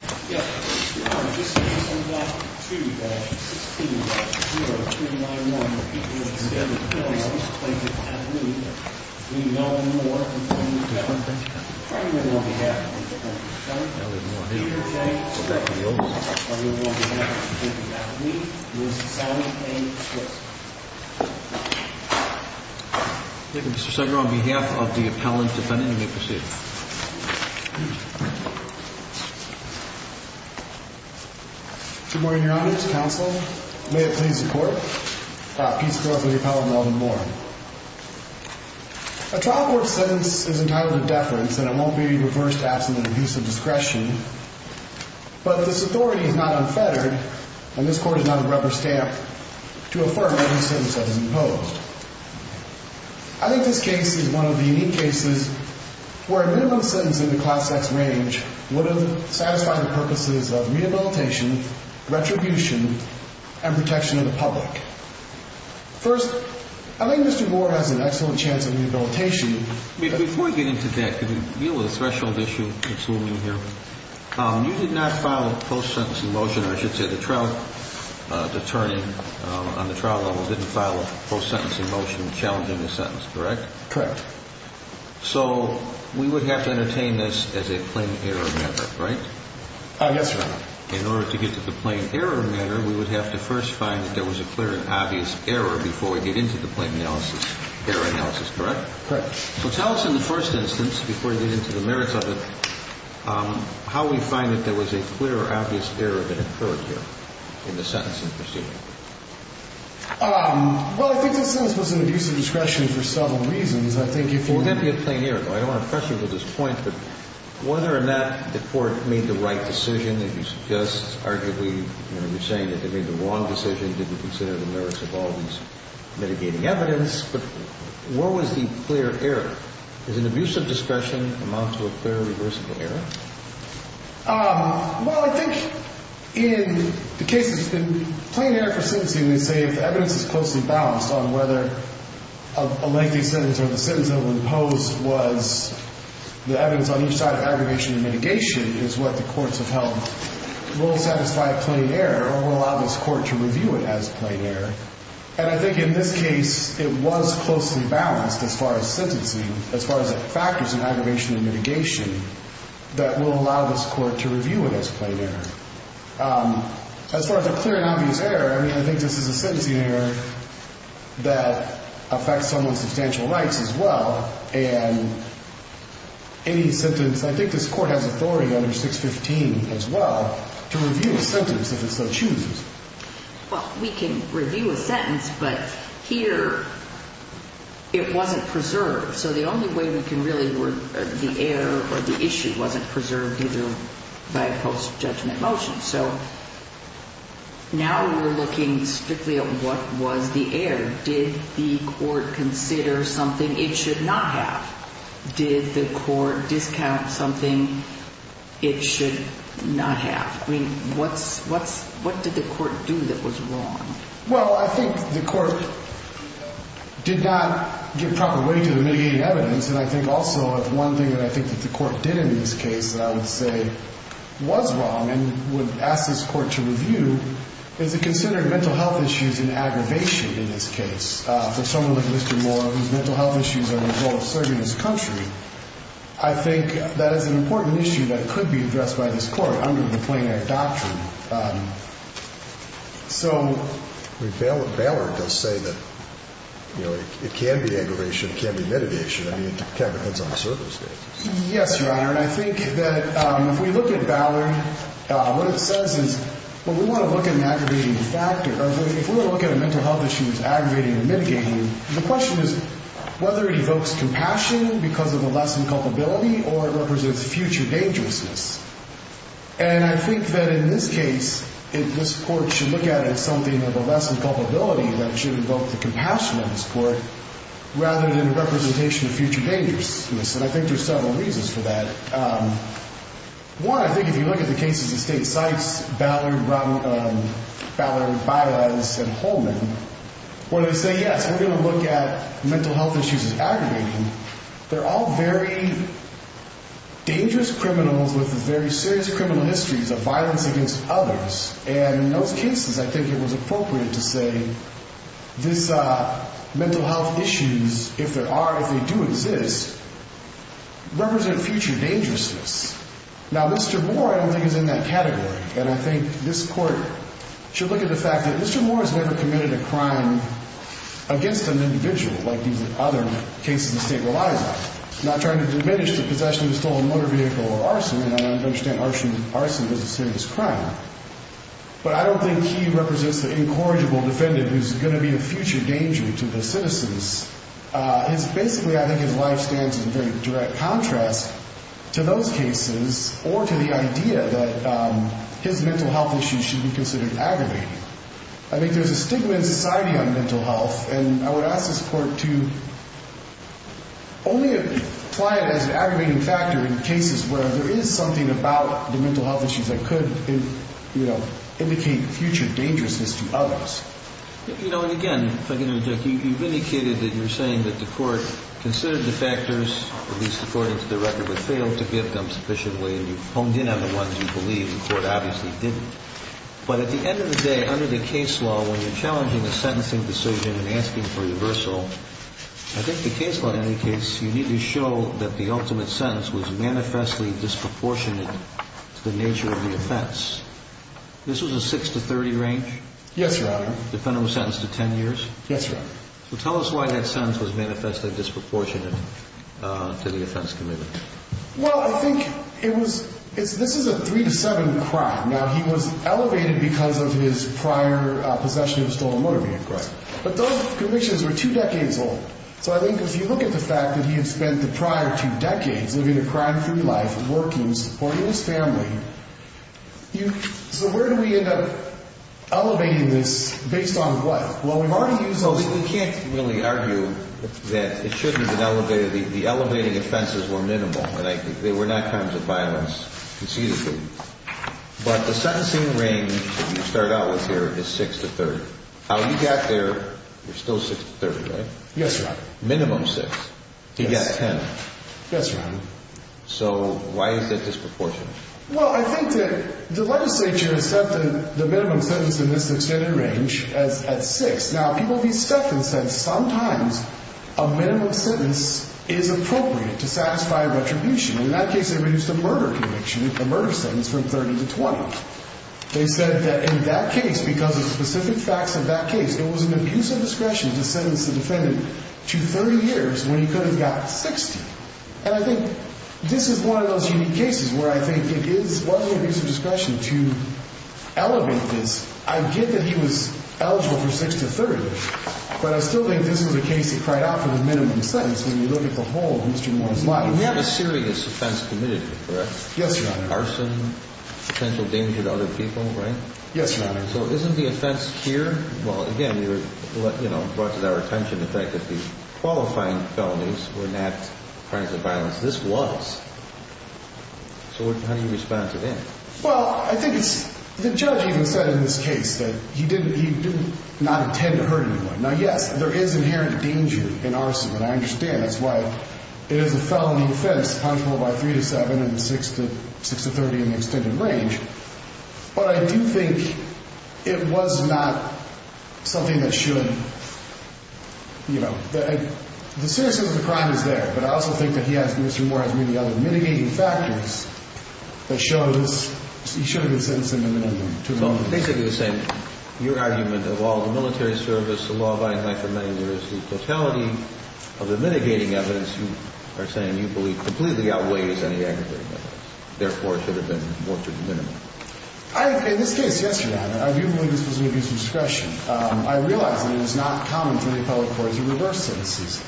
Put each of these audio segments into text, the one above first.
on behalf of the appellant defendant, you may proceed. Good morning, Your Honor, to counsel, may it please the court, Pete Spillers, the appellant Melvin Moore. A trial court sentence is entitled to deference and it won't be reversed absent an abuse of discretion, but this authority is not unfettered and this court is not a rubber stamp to affirm any sentence that is imposed. I think this case is one of the unique cases where a minimum sentence in the class X range would have satisfied the purposes of rehabilitation, retribution, and protection of the public. First, I think Mr. Moore has an excellent chance of rehabilitation. Mr. Spillers, I think you have an excellent chance of rehabilitation. I think you have an excellent chance of rehabilitation. Before we get into that, can we deal with a threshold issue? You did not file a post-sentence in motion. I should say the trial attorney on the trial level didn't file a post-sentence in motion challenging the sentence, correct? Correct. So we would have to entertain this as a plain error matter, right? Yes, Your Honor. In order to get to the plain error matter, we would have to first find that there was a clear and obvious error before we get into the plain error analysis, correct? Correct. So tell us in the first instance, before we get into the merits of it, how we find that there was a clear, obvious error that occurred here in the sentence in proceeding? Well, I think the sentence was an abuse of discretion for several reasons. I think if we're going to be a plain error. I don't want to pressure you to this point, but whether or not the court made the right decision, if you suggest arguably you're saying that they made the wrong decision, didn't consider the merits of all these mitigating evidence, but where was the clear error? Does an abuse of discretion amount to a clear, reversible error? Well, I think in the case of plain error for sentencing, we say if the evidence is closely balanced on whether a lengthy sentence or the sentence that was imposed was the evidence on each side of aggravation and mitigation, is what the courts have held will satisfy plain error or will allow this court to review it as plain error. And I think in this case, it was closely balanced as far as sentencing. As far as factors in aggravation and mitigation that will allow this court to review it as plain error. As far as a clear and obvious error, I mean, I think this is a sentencing error that affects someone's substantial rights as well. And any sentence, I think this court has authority under 615 as well to review a sentence if it so chooses. Well, we can review a sentence, but here it wasn't preserved. So the only way we can really work the error or the issue wasn't preserved either by a post-judgment motion. So now we're looking strictly at what was the error. Did the court consider something it should not have? Did the court discount something it should not have? I mean, what did the court do that was wrong? Well, I think the court did not give proper weight to the mitigating evidence. And I think also one thing that I think that the court did in this case that I would say was wrong and would ask this court to review is it considered mental health issues and aggravation in this case. For someone like Mr. Moore, whose mental health issues are the result of serving his country, I think that is an important issue that could be addressed by this court under the Plain Act doctrine. So, But Ballard does say that it can be aggravation, it can be mitigation. I mean, it kind of depends on the service case. Yes, Your Honor. And I think that if we look at Ballard, what it says is, well, we want to look at an aggravating factor. If we were to look at a mental health issue as aggravating or mitigating, the question is whether it evokes compassion because of the lessened culpability or it represents future dangerousness. And I think that in this case, this court should look at it as something of a lessened culpability that should evoke the compassion of this court rather than a representation of future dangerousness. And I think there are several reasons for that. One, I think if you look at the cases of State Sykes, Ballard, Bylaz, and Holman, where they say, yes, we're going to look at mental health issues as aggravating, they're all very dangerous criminals with very serious criminal histories of violence against others. And in those cases, I think it was appropriate to say this mental health issues, if there are, if they do exist, represent future dangerousness. Now, Mr. Moore, I don't think, is in that category. And I think this court should look at the fact that Mr. Moore has never committed a crime against an individual, like these other cases the state relies on, not trying to diminish the possession of a stolen motor vehicle or arson. And I understand arson is a serious crime. But I don't think he represents the incorrigible defendant who's going to be a future danger to the citizens. Basically, I think his life stands in very direct contrast to those cases or to the idea that his mental health issues should be considered aggravating. I think there's a stigma in society on mental health. And I would ask this court to only apply it as an aggravating factor in cases where there is something about the mental health issues that could indicate future dangerousness to others. You know, and again, if I can interject, you've indicated that you're saying that the court considered the factors, at least according to the record, but failed to get them sufficiently. And you've honed in on the ones you believe. The court obviously didn't. But at the end of the day, under the case law, when you're challenging a sentencing decision and asking for reversal, I think the case law indicates you need to show that the ultimate sentence was manifestly disproportionate to the nature of the offense. This was a 6 to 30 range? Yes, Your Honor. The defendant was sentenced to 10 years? Yes, Your Honor. Well, tell us why that sentence was manifestly disproportionate to the offense committed. Well, I think this is a 3 to 7 crime. Now, he was elevated because of his prior possession of a stolen motor vehicle. But those convictions were two decades old. So I think if you look at the fact that he had spent the prior two decades living a crime-free life, working, supporting his family, so where do we end up elevating this based on what? Well, we've already used those. We can't really argue that it shouldn't have been elevated. The elevating offenses were minimal. They were not crimes of violence conceitedly. But the sentencing range that you start out with here is 6 to 30. How you got there, you're still 6 to 30, right? Yes, Your Honor. Minimum 6. He got 10. Yes, Your Honor. So why is it disproportionate? Well, I think that the legislature has set the minimum sentence in this extended range at 6. Now, people have been skeptics that sometimes a minimum sentence is appropriate to satisfy retribution. In that case, they reduced the murder conviction, the murder sentence, from 30 to 20. They said that in that case, because of specific facts of that case, there was an abuse of discretion to sentence the defendant to 30 years when he could have gotten 60. And I think this is one of those unique cases where I think it is one abuse of discretion to elevate this. I get that he was eligible for 6 to 30, but I still think this was a case that cried out for the minimum sentence when you look at the whole of Mr. Moore's life. You have a serious offense committed, correct? Yes, Your Honor. Arson, potential danger to other people, right? Yes, Your Honor. So isn't the offense here? Well, again, it brought to our attention the fact that the qualifying felonies were not crimes of violence. This was. So how do you respond to that? Well, I think the judge even said in this case that he did not intend to hurt anyone. Now, yes, there is inherent danger in arson, and I understand. That's why it is a felony offense, punishable by 3 to 7 and 6 to 30 in the extended range. But I do think it was not something that should, you know, the seriousness of the crime is there, but I also think that Mr. Moore has many other mitigating factors that show he should have been sentenced in the minimum. Well, basically the same. Your argument of all the military service, the law-abiding life of many years, the totality of the mitigating evidence you are saying you believe completely outweighs any aggravating evidence, therefore it should have been more to the minimum. In this case, yes, Your Honor, I do believe this was an abuse of discretion. I realize that it is not common for the appellate court to reverse sentences.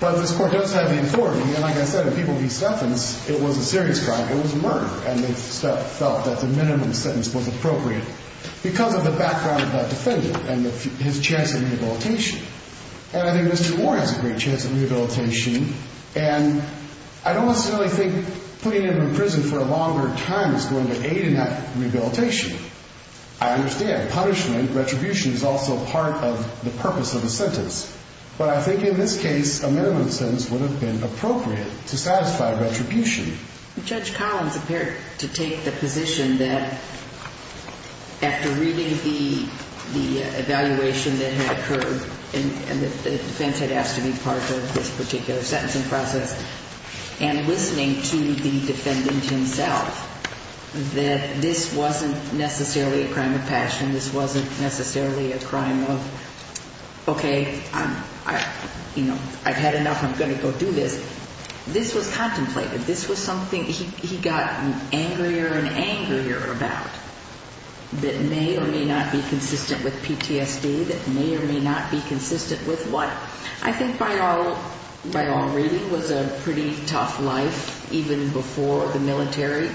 But this court does have the authority, and like I said, when people do sentence, it was a serious crime. It was a murder, and they felt that the minimum sentence was appropriate because of the background of that defendant and his chance of rehabilitation. And I think Mr. Moore has a great chance of rehabilitation, and I don't necessarily think putting him in prison for a longer time is going to aid in that rehabilitation. I understand punishment, retribution is also part of the purpose of the sentence, but I think in this case a minimum sentence would have been appropriate to satisfy retribution. Judge Collins appeared to take the position that after reading the evaluation that had occurred and the defense had asked to be part of this particular sentencing process and listening to the defendant himself, that this wasn't necessarily a crime of passion, this wasn't necessarily a crime of, okay, I've had enough, I'm going to go do this. This was contemplated. This was something he got angrier and angrier about that may or may not be consistent with PTSD, that may or may not be consistent with what I think by all reading was a pretty tough life even before the military.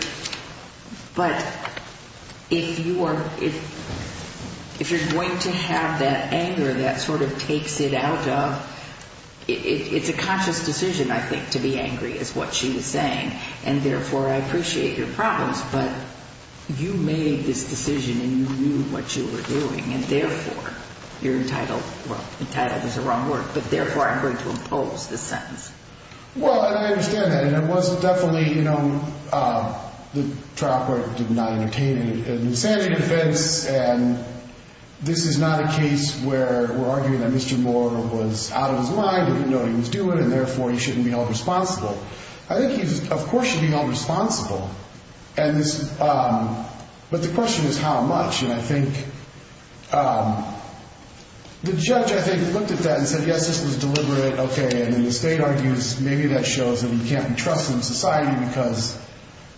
But if you're going to have that anger that sort of takes it out of, it's a conscious decision, I think, to be angry is what she was saying, and therefore I appreciate your problems, but you made this decision and you knew what you were doing, and therefore you're entitled, well, entitled is the wrong word, but therefore I'm going to impose this sentence. Well, I understand that, and it was definitely, you know, the trial court did not entertain an insanity defense, and this is not a case where we're arguing that Mr. Moore was out of his mind, he didn't know what he was doing, and therefore he shouldn't be held responsible. I think he, of course, should be held responsible, but the question is how much, and I think the judge, I think, looked at that and said, yes, this was deliberate, okay, and then the state argues maybe that shows that he can't be trusted in society because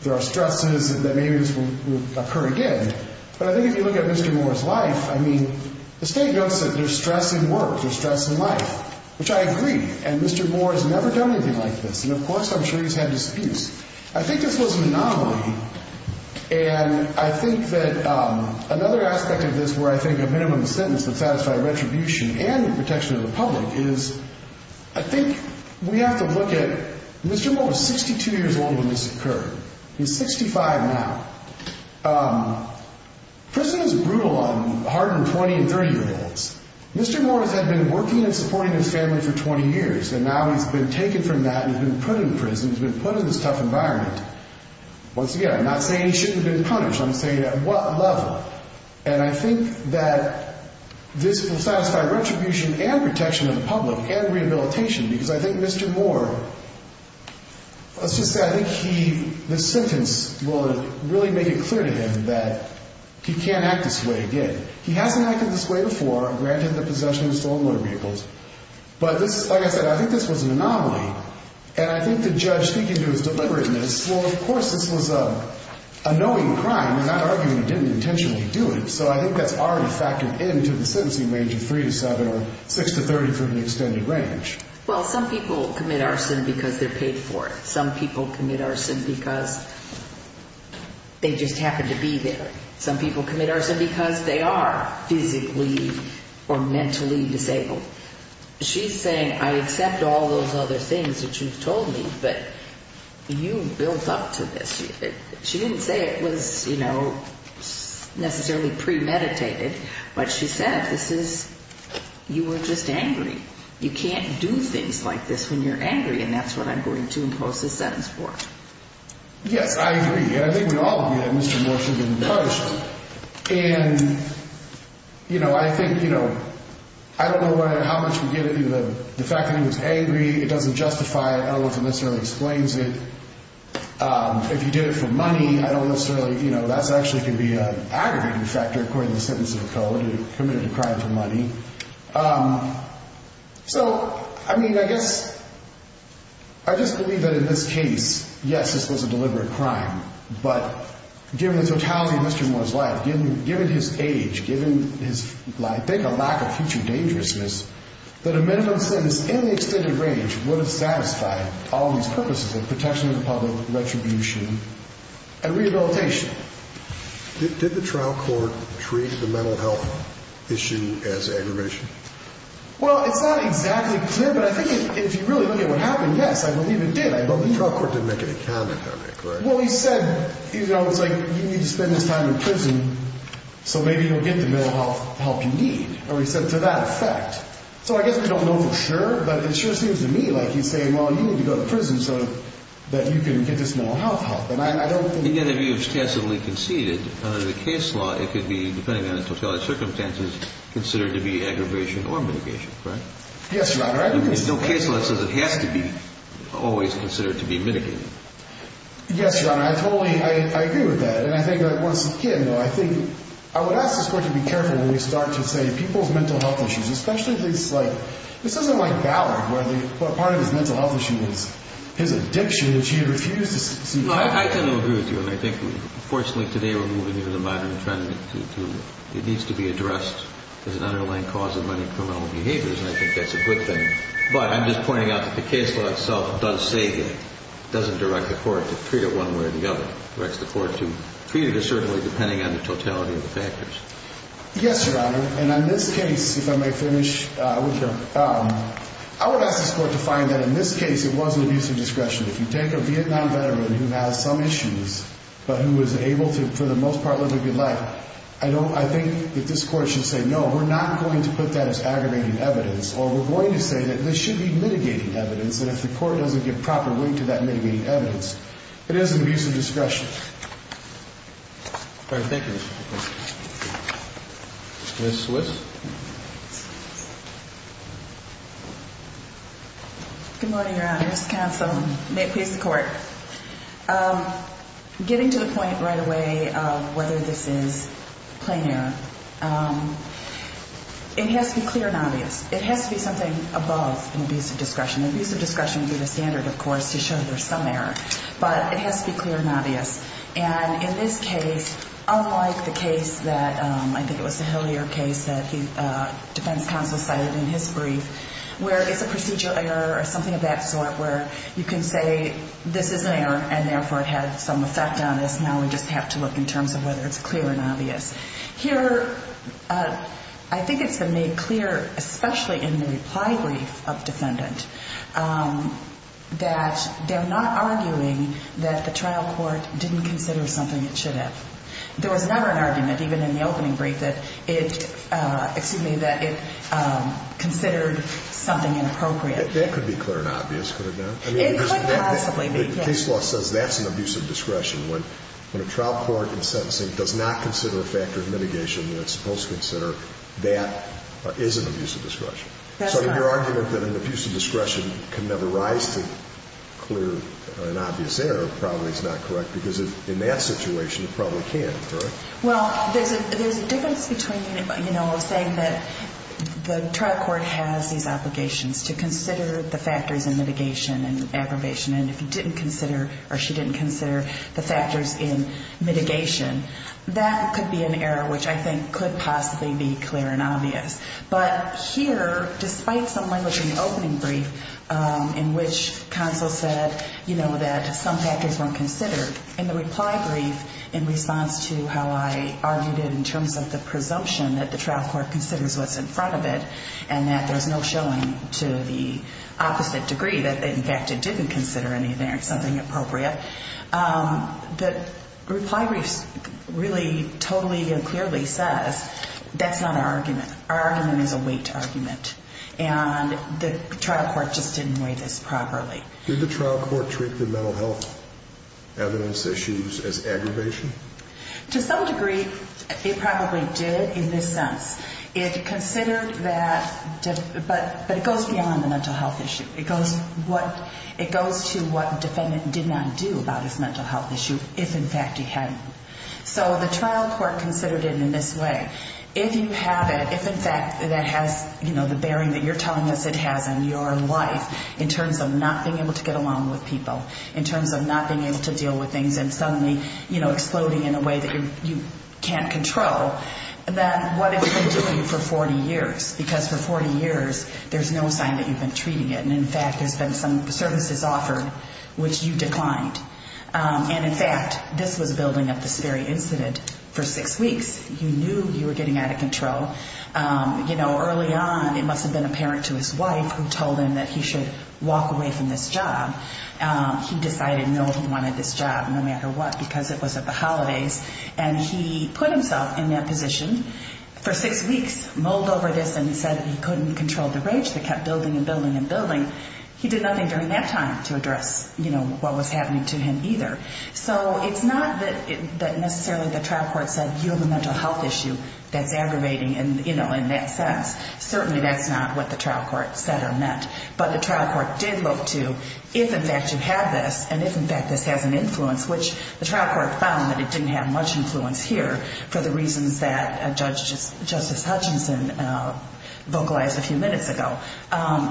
there are stresses and that maybe this will occur again, but I think if you look at Mr. Moore's life, I mean, the state notes that there's stress in work, there's stress in life, which I agree, and Mr. Moore has never done anything like this, and, of course, I'm sure he's had disputes. I think this was an anomaly, and I think that another aspect of this where I think a minimum sentence would satisfy retribution and protection of the public is I think we have to look at Mr. Moore was 62 years old when this occurred. He's 65 now. Prison is brutal on hard-earned 20- and 30-year-olds. Mr. Moore had been working and supporting his family for 20 years, and now he's been taken from that and he's been put in prison. He's been put in this tough environment. Once again, I'm not saying he shouldn't have been punished. I'm saying at what level, and I think that this will satisfy retribution and protection of the public and rehabilitation because I think Mr. Moore, let's just say I think this sentence will really make it clear to him that he can't act this way again. He hasn't acted this way before, granted the possession of stolen motor vehicles, but like I said, I think this was an anomaly, and I think the judge speaking to his deliberateness, well, of course this was a knowing crime, and I'm not arguing he didn't intentionally do it, so I think that's already factored into the sentencing range of 3 to 7 or 6 to 30 for the extended range. Well, some people commit arson because they're paid for it. Some people commit arson because they just happen to be there. Some people commit arson because they are physically or mentally disabled. She's saying I accept all those other things that you've told me, but you built up to this. She didn't say it was, you know, necessarily premeditated, but she said this is you were just angry. You can't do things like this when you're angry, and that's what I'm going to impose this sentence for. Yes, I agree. I think we all agree that Mr. Morshi didn't punish him, and, you know, I think, you know, I don't know how much we give it to the fact that he was angry. It doesn't justify it. I don't know if it necessarily explains it. If he did it for money, I don't necessarily, you know, that actually could be an aggregating factor according to the sentence of the code, committed a crime for money. So, I mean, I guess I just believe that in this case, yes, this was a deliberate crime, but given the totality of Mr. Morshi's life, given his age, given his, I think, a lack of future dangerousness, that a minimum sentence in the extended range would have satisfied all of these purposes of protection of the public, retribution, and rehabilitation. Did the trial court treat the mental health issue as aggravation? Well, it's not exactly clear, but I think if you really look at what happened, yes, I believe it did. But the trial court didn't make any comment on it, correct? Well, he said, you know, it's like you need to spend this time in prison, so maybe you'll get the mental health help you need, or he said to that effect. So I guess we don't know for sure, but it sure seems to me like he's saying, well, you need to go to prison so that you can get this mental health help. And I don't think... In the end, if he was tacitly conceded, under the case law, it could be, depending on the totality of circumstances, considered to be aggravation or mitigation, correct? Yes, Your Honor. No case law says it has to be always considered to be mitigated. Yes, Your Honor, I totally, I agree with that, and I think once again, though, I think, I would ask the court to be careful when we start to say people's mental health issues, especially things like, this isn't like Ballard, where part of his mental health issue is his addiction, and she refused to see that. I totally agree with you, and I think, fortunately, today we're moving into the modern trend to, it needs to be addressed as an underlying cause of many criminal behaviors, and I think that's a good thing. But I'm just pointing out that the case law itself does say that, it doesn't direct the court to treat it one way or the other. It directs the court to treat it assertively, depending on the totality of the factors. Yes, Your Honor, and on this case, if I may finish, I would ask this court to find that, in this case, it was an abuse of discretion. If you take a Vietnam veteran who has some issues, but who was able to, for the most part, live a good life, I think that this court should say, no, we're not going to put that as aggravating evidence, or we're going to say that this should be mitigating evidence, and if the court doesn't give proper weight to that mitigating evidence, it is an abuse of discretion. All right, thank you. Ms. Swiss? Good morning, Your Honor. Mr. Counsel, may it please the court. Getting to the point right away of whether this is plain error, it has to be clear and obvious. It has to be something above an abuse of discretion. Abuse of discretion would be the standard, of course, to show there's some error, but it has to be clear and obvious. And in this case, unlike the case that, I think it was the Hillier case, that the defense counsel cited in his brief, where it's a procedure error or something of that sort where you can say this is an error and therefore it had some effect on us, now we just have to look in terms of whether it's clear and obvious. Here, I think it's been made clear, especially in the reply brief of defendant, that they're not arguing that the trial court didn't consider something it should have. There was never an argument, even in the opening brief, that it considered something inappropriate. That could be clear and obvious, could it not? It could possibly be, yes. The case law says that's an abuse of discretion. When a trial court in sentencing does not consider a factor of mitigation, it's supposed to consider that is an abuse of discretion. That's right. So your argument that an abuse of discretion can never rise to clear an obvious error probably is not correct because in that situation it probably can, correct? Well, there's a difference between saying that the trial court has these obligations to consider the factors in mitigation and aggravation, and if you didn't consider or she didn't consider the factors in mitigation, that could be an error which I think could possibly be clear and obvious. But here, despite someone looking at the opening brief in which counsel said that some factors weren't considered, in the reply brief in response to how I argued it in terms of the presumption that the trial court considers what's in front of it and that there's no showing to the opposite degree that, in fact, it didn't consider anything or something appropriate, the reply brief really totally and clearly says that's not our argument. Our argument is a weight argument, and the trial court just didn't weigh this properly. Did the trial court treat the mental health evidence issues as aggravation? To some degree it probably did in this sense. It considered that, but it goes beyond the mental health issue. It goes to what the defendant did not do about his mental health issue if, in fact, he hadn't. So the trial court considered it in this way. If you have it, if, in fact, that has the bearing that you're telling us it has on your life in terms of not being able to get along with people, in terms of not being able to deal with things and suddenly, you know, exploding in a way that you can't control, then what have you been doing for 40 years? Because for 40 years there's no sign that you've been treating it. And, in fact, there's been some services offered which you declined. And, in fact, this was building up this very incident for six weeks. You knew you were getting out of control. You know, early on it must have been apparent to his wife who told him that he should walk away from this job. He decided no, he wanted this job no matter what because it was at the holidays. And he put himself in that position for six weeks, mulled over this, and said he couldn't control the rage that kept building and building and building. He did nothing during that time to address, you know, what was happening to him either. So it's not that necessarily the trial court said you have a mental health issue that's aggravating in that sense. Certainly that's not what the trial court said or meant. But the trial court did look to if, in fact, you have this and if, in fact, this has an influence, which the trial court found that it didn't have much influence here for the reasons that Justice Hutchinson vocalized a few minutes ago.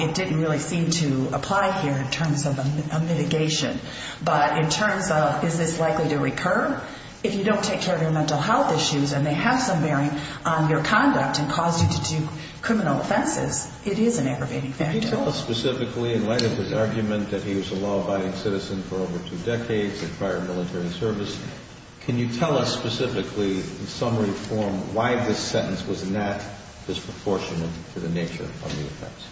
It didn't really seem to apply here in terms of a mitigation. But in terms of is this likely to recur? If you don't take care of your mental health issues and they have some bearing on your conduct and cause you to do criminal offenses, it is an aggravating factor. Can you tell us specifically, in light of his argument that he was a law-abiding citizen for over two decades in prior military service, can you tell us specifically, in summary form, why this sentence was not disproportionate to the nature of the offense?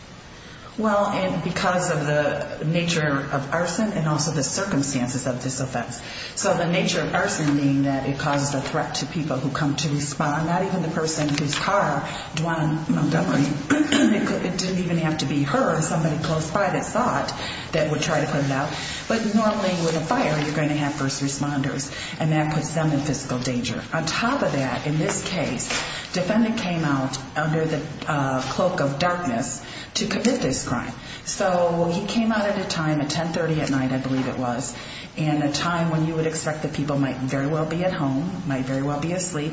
Well, because of the nature of arson and also the circumstances of this offense. So the nature of arson being that it caused a threat to people who come to respond, not even the person whose car, Dwayne Montgomery, it didn't even have to be her, somebody close by that saw it that would try to put it out. But normally with a fire, you're going to have first responders. And that puts them in physical danger. On top of that, in this case, defendant came out under the cloak of darkness to commit this crime. So he came out at a time, at 1030 at night I believe it was, in a time when you would expect that people might very well be at home, might very well be asleep,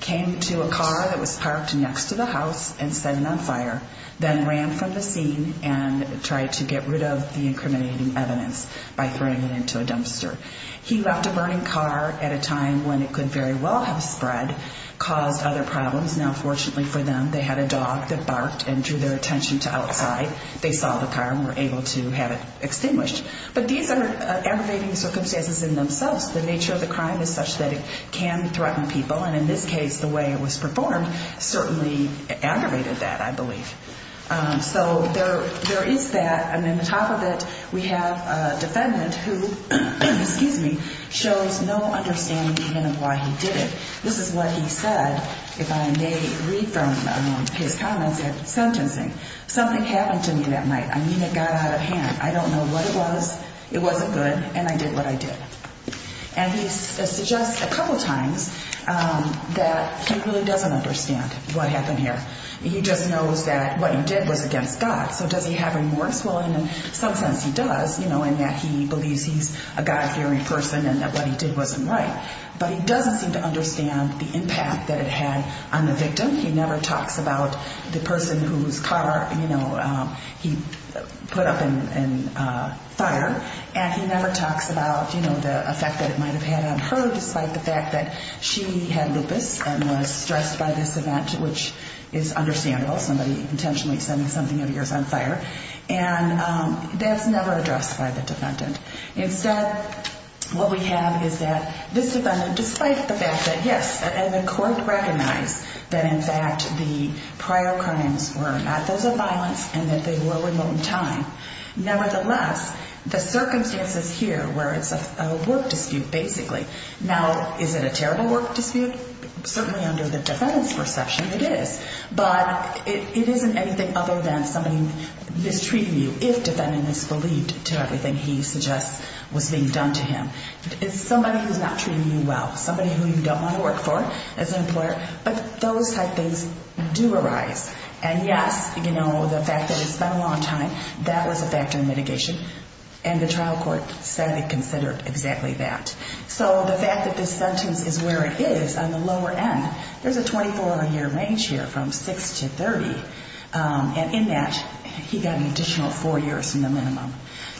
came to a car that was parked next to the house and set it on fire, then ran from the scene and tried to get rid of the incriminating evidence by throwing it into a dumpster. He left a burning car at a time when it could very well have spread, caused other problems. Now, fortunately for them, they had a dog that barked and drew their attention to outside. They saw the car and were able to have it extinguished. But these are aggravating circumstances in themselves. The nature of the crime is such that it can threaten people. And in this case, the way it was performed certainly aggravated that, I believe. So there is that. And then on top of it, we have a defendant who, excuse me, shows no understanding even of why he did it. This is what he said, if I may read from his comments at sentencing. Something happened to me that night. I mean, it got out of hand. I don't know what it was. It wasn't good. And I did what I did. And he suggests a couple times that he really doesn't understand what happened here. He just knows that what he did was against God. So does he have remorse? Well, in some sense, he does. You know, in that he believes he's a God-fearing person and that what he did wasn't right. But he doesn't seem to understand the impact that it had on the victim. He never talks about the person whose car, you know, he put up in fire. And he never talks about, you know, the effect that it might have had on her, despite the fact that she had lupus and was stressed by this event, which is understandable. Somebody intentionally setting something of yours on fire. And that's never addressed by the defendant. Instead, what we have is that this defendant, despite the fact that, yes, and the court recognized that, in fact, the prior crimes were not those of violence and that they were remote in time. Nevertheless, the circumstances here where it's a work dispute, basically. Now, is it a terrible work dispute? Certainly under the defendant's perception, it is. But it isn't anything other than somebody mistreating you, if defendant misbelieved to everything he suggests was being done to him. It's somebody who's not treating you well, somebody who you don't want to work for as an employer. But those type things do arise. And, yes, you know, the fact that it's been a long time, that was a factor in mitigation. And the trial court said it considered exactly that. So the fact that this sentence is where it is on the lower end, there's a 24-year range here from 6 to 30. And in that, he got an additional four years from the minimum.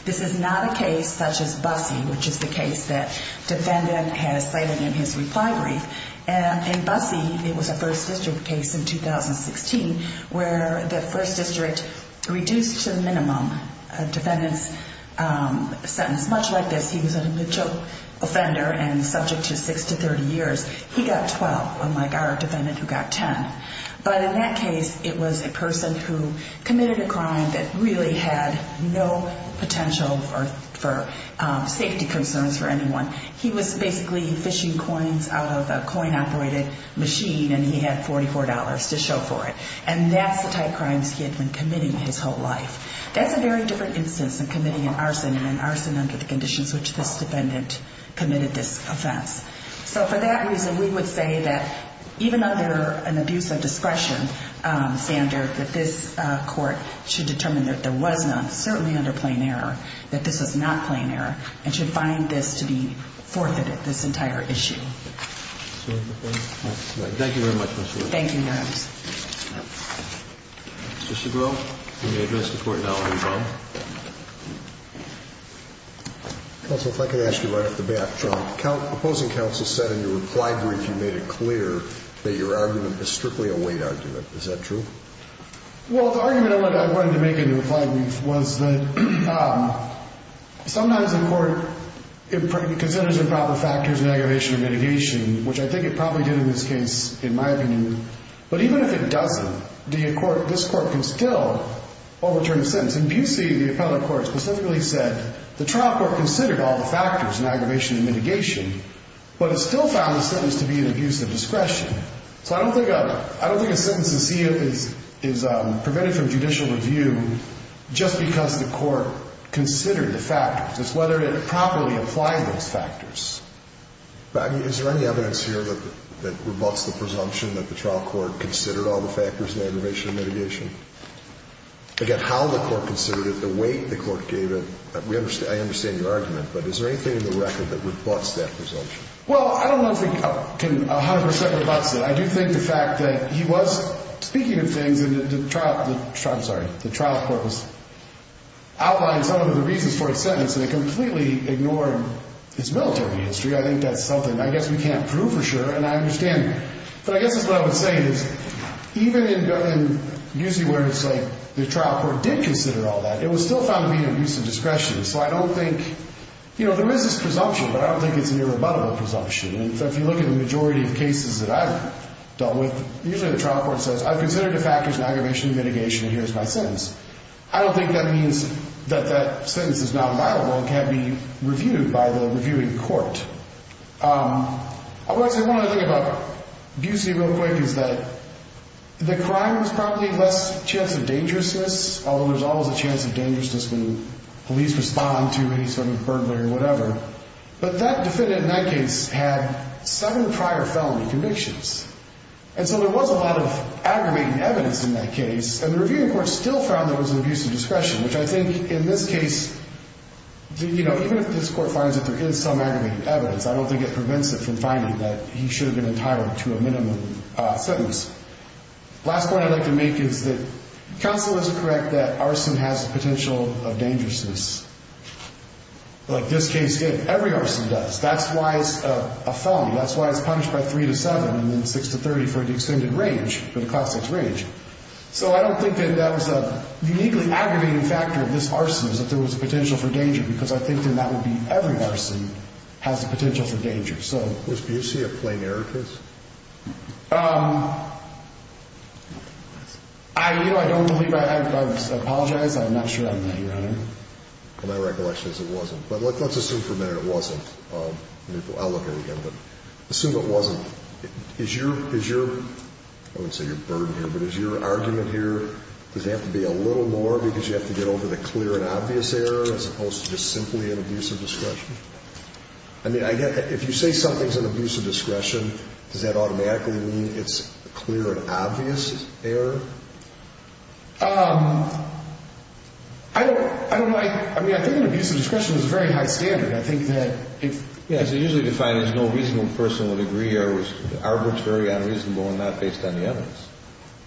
This is not a case such as Busse, which is the case that defendant has cited in his reply brief. In Busse, it was a First District case in 2016 where the First District reduced to the minimum a defendant's sentence much like this. He was a mid-joke offender and subject to 6 to 30 years. He got 12, unlike our defendant who got 10. But in that case, it was a person who committed a crime that really had no potential for safety concerns for anyone. He was basically fishing coins out of a coin-operated machine, and he had $44 to show for it. And that's the type of crimes he had been committing his whole life. That's a very different instance than committing an arson and an arson under the conditions which this defendant committed this offense. So for that reason, we would say that even under an abuse of discretion standard, that this court should determine that there was none, certainly under plain error, that this was not plain error, and should find this to be forfeited, this entire issue. Thank you very much, Ms. Williams. Thank you, Your Honor. Mr. Segrow, can you address the Court now? Counsel, if I could ask you right off the bat. Sure. Opposing counsel said in your reply brief you made it clear that your argument is strictly a weight argument. Is that true? Well, the argument I wanted to make in the reply brief was that sometimes the Court considers improper factors in aggravation and mitigation, which I think it probably did in this case, in my opinion. But even if it doesn't, this Court can still overturn the sentence. In Bucy, the appellate court specifically said the trial court considered all the factors in aggravation and mitigation, but it still found the sentence to be an abuse of discretion. So I don't think a sentence is prevented from judicial review just because the Court considered the factors. It's whether it properly applied those factors. Is there any evidence here that rebutts the presumption that the trial court considered all the factors in aggravation and mitigation? Again, how the Court considered it, the weight the Court gave it, I understand your argument, but is there anything in the record that rebutts that presumption? Well, I don't know if we can 100 percent rebutt that. I do think the fact that he was speaking of things, and the trial court was outlining some of the reasons for his sentence, and it completely ignored his military history. I think that's something I guess we can't prove for sure, and I understand that. But I guess that's what I would say is even in Bucy where it's like the trial court did consider all that, it was still found to be an abuse of discretion. So I don't think, you know, there is this presumption, but I don't think it's an irrebuttable presumption. And if you look at the majority of cases that I've dealt with, usually the trial court says, I've considered the factors in aggravation and mitigation, and here's my sentence. I don't think that means that that sentence is non-violable and can't be reviewed by the reviewing court. I want to say one other thing about Bucy real quick is that the crime was probably less chance of dangerousness, although there's always a chance of dangerousness when police respond to any sort of burglary or whatever. But that defendant in that case had seven prior felony convictions. And so there was a lot of aggravating evidence in that case, and the reviewing court still found there was an abuse of discretion, which I think in this case, you know, even if this court finds that there is some aggravating evidence, I don't think it prevents it from finding that he should have been entitled to a minimum sentence. Last point I'd like to make is that counsel is correct that arson has the potential of dangerousness. Like this case did, every arson does. That's why it's a felony. That's why it's punished by 3 to 7 and then 6 to 30 for the extended range, for the class 6 range. So I don't think that that was a uniquely aggravating factor of this arson is that there was a potential for danger, because I think then that would be every arson has the potential for danger. So do you see a plain error case? I, you know, I don't believe, I apologize. I'm not sure on that, Your Honor. My recollection is it wasn't. But let's assume for a minute it wasn't. I'll look at it again, but assume it wasn't. Is your, I wouldn't say your burden here, but is your argument here, does it have to be a little more because you have to get over the clear and obvious error as opposed to just simply an abuse of discretion? I mean, I get that if you say something's an abuse of discretion, does that automatically mean it's a clear and obvious error? I don't know. I mean, I think an abuse of discretion is a very high standard. I think that if. Yeah, it's usually defined as no reasonable person would agree or it was arbitrary, unreasonable, and not based on the evidence.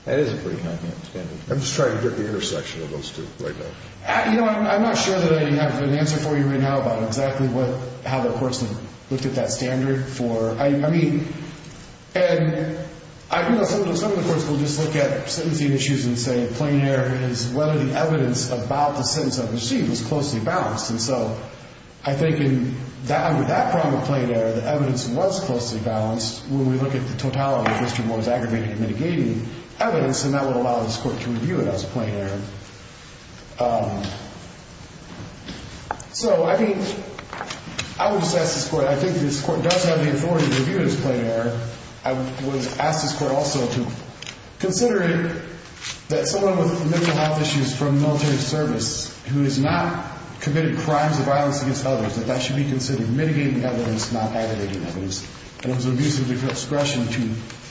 That is a pretty high standard. I'm just trying to get the intersection of those two right now. You know, I'm not sure that I have an answer for you right now about exactly what, how the court's looked at that standard for. I mean, and I do know some of the courts will just look at sentencing issues and say plain error is whether the evidence about the sentence I've received was closely balanced. And so I think under that problem of plain error, the evidence was closely balanced. When we look at the totality of the history of what was aggravated and mitigated evidence, and that would allow this court to review it as plain error. So, I mean, I would just ask this court. I think this court does have the authority to review it as plain error. I would ask this court also to consider it that someone with mental health issues from military service who has not committed crimes of violence against others, that that should be considered mitigating evidence, not aggravating evidence. And it was an abuse of discretion to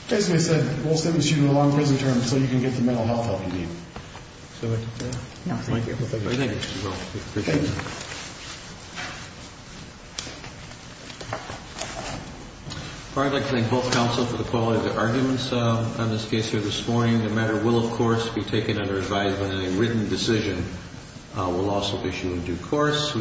basically said, we'll sentence you to a long prison term so you can get the mental health help you need. Is that what you said? No, thank you. Well, thank you. I appreciate it. Thank you. I'd like to thank both counsel for the quality of their arguments on this case here this morning. The matter will, of course, be taken under advisement in a written decision. We'll also issue a due course.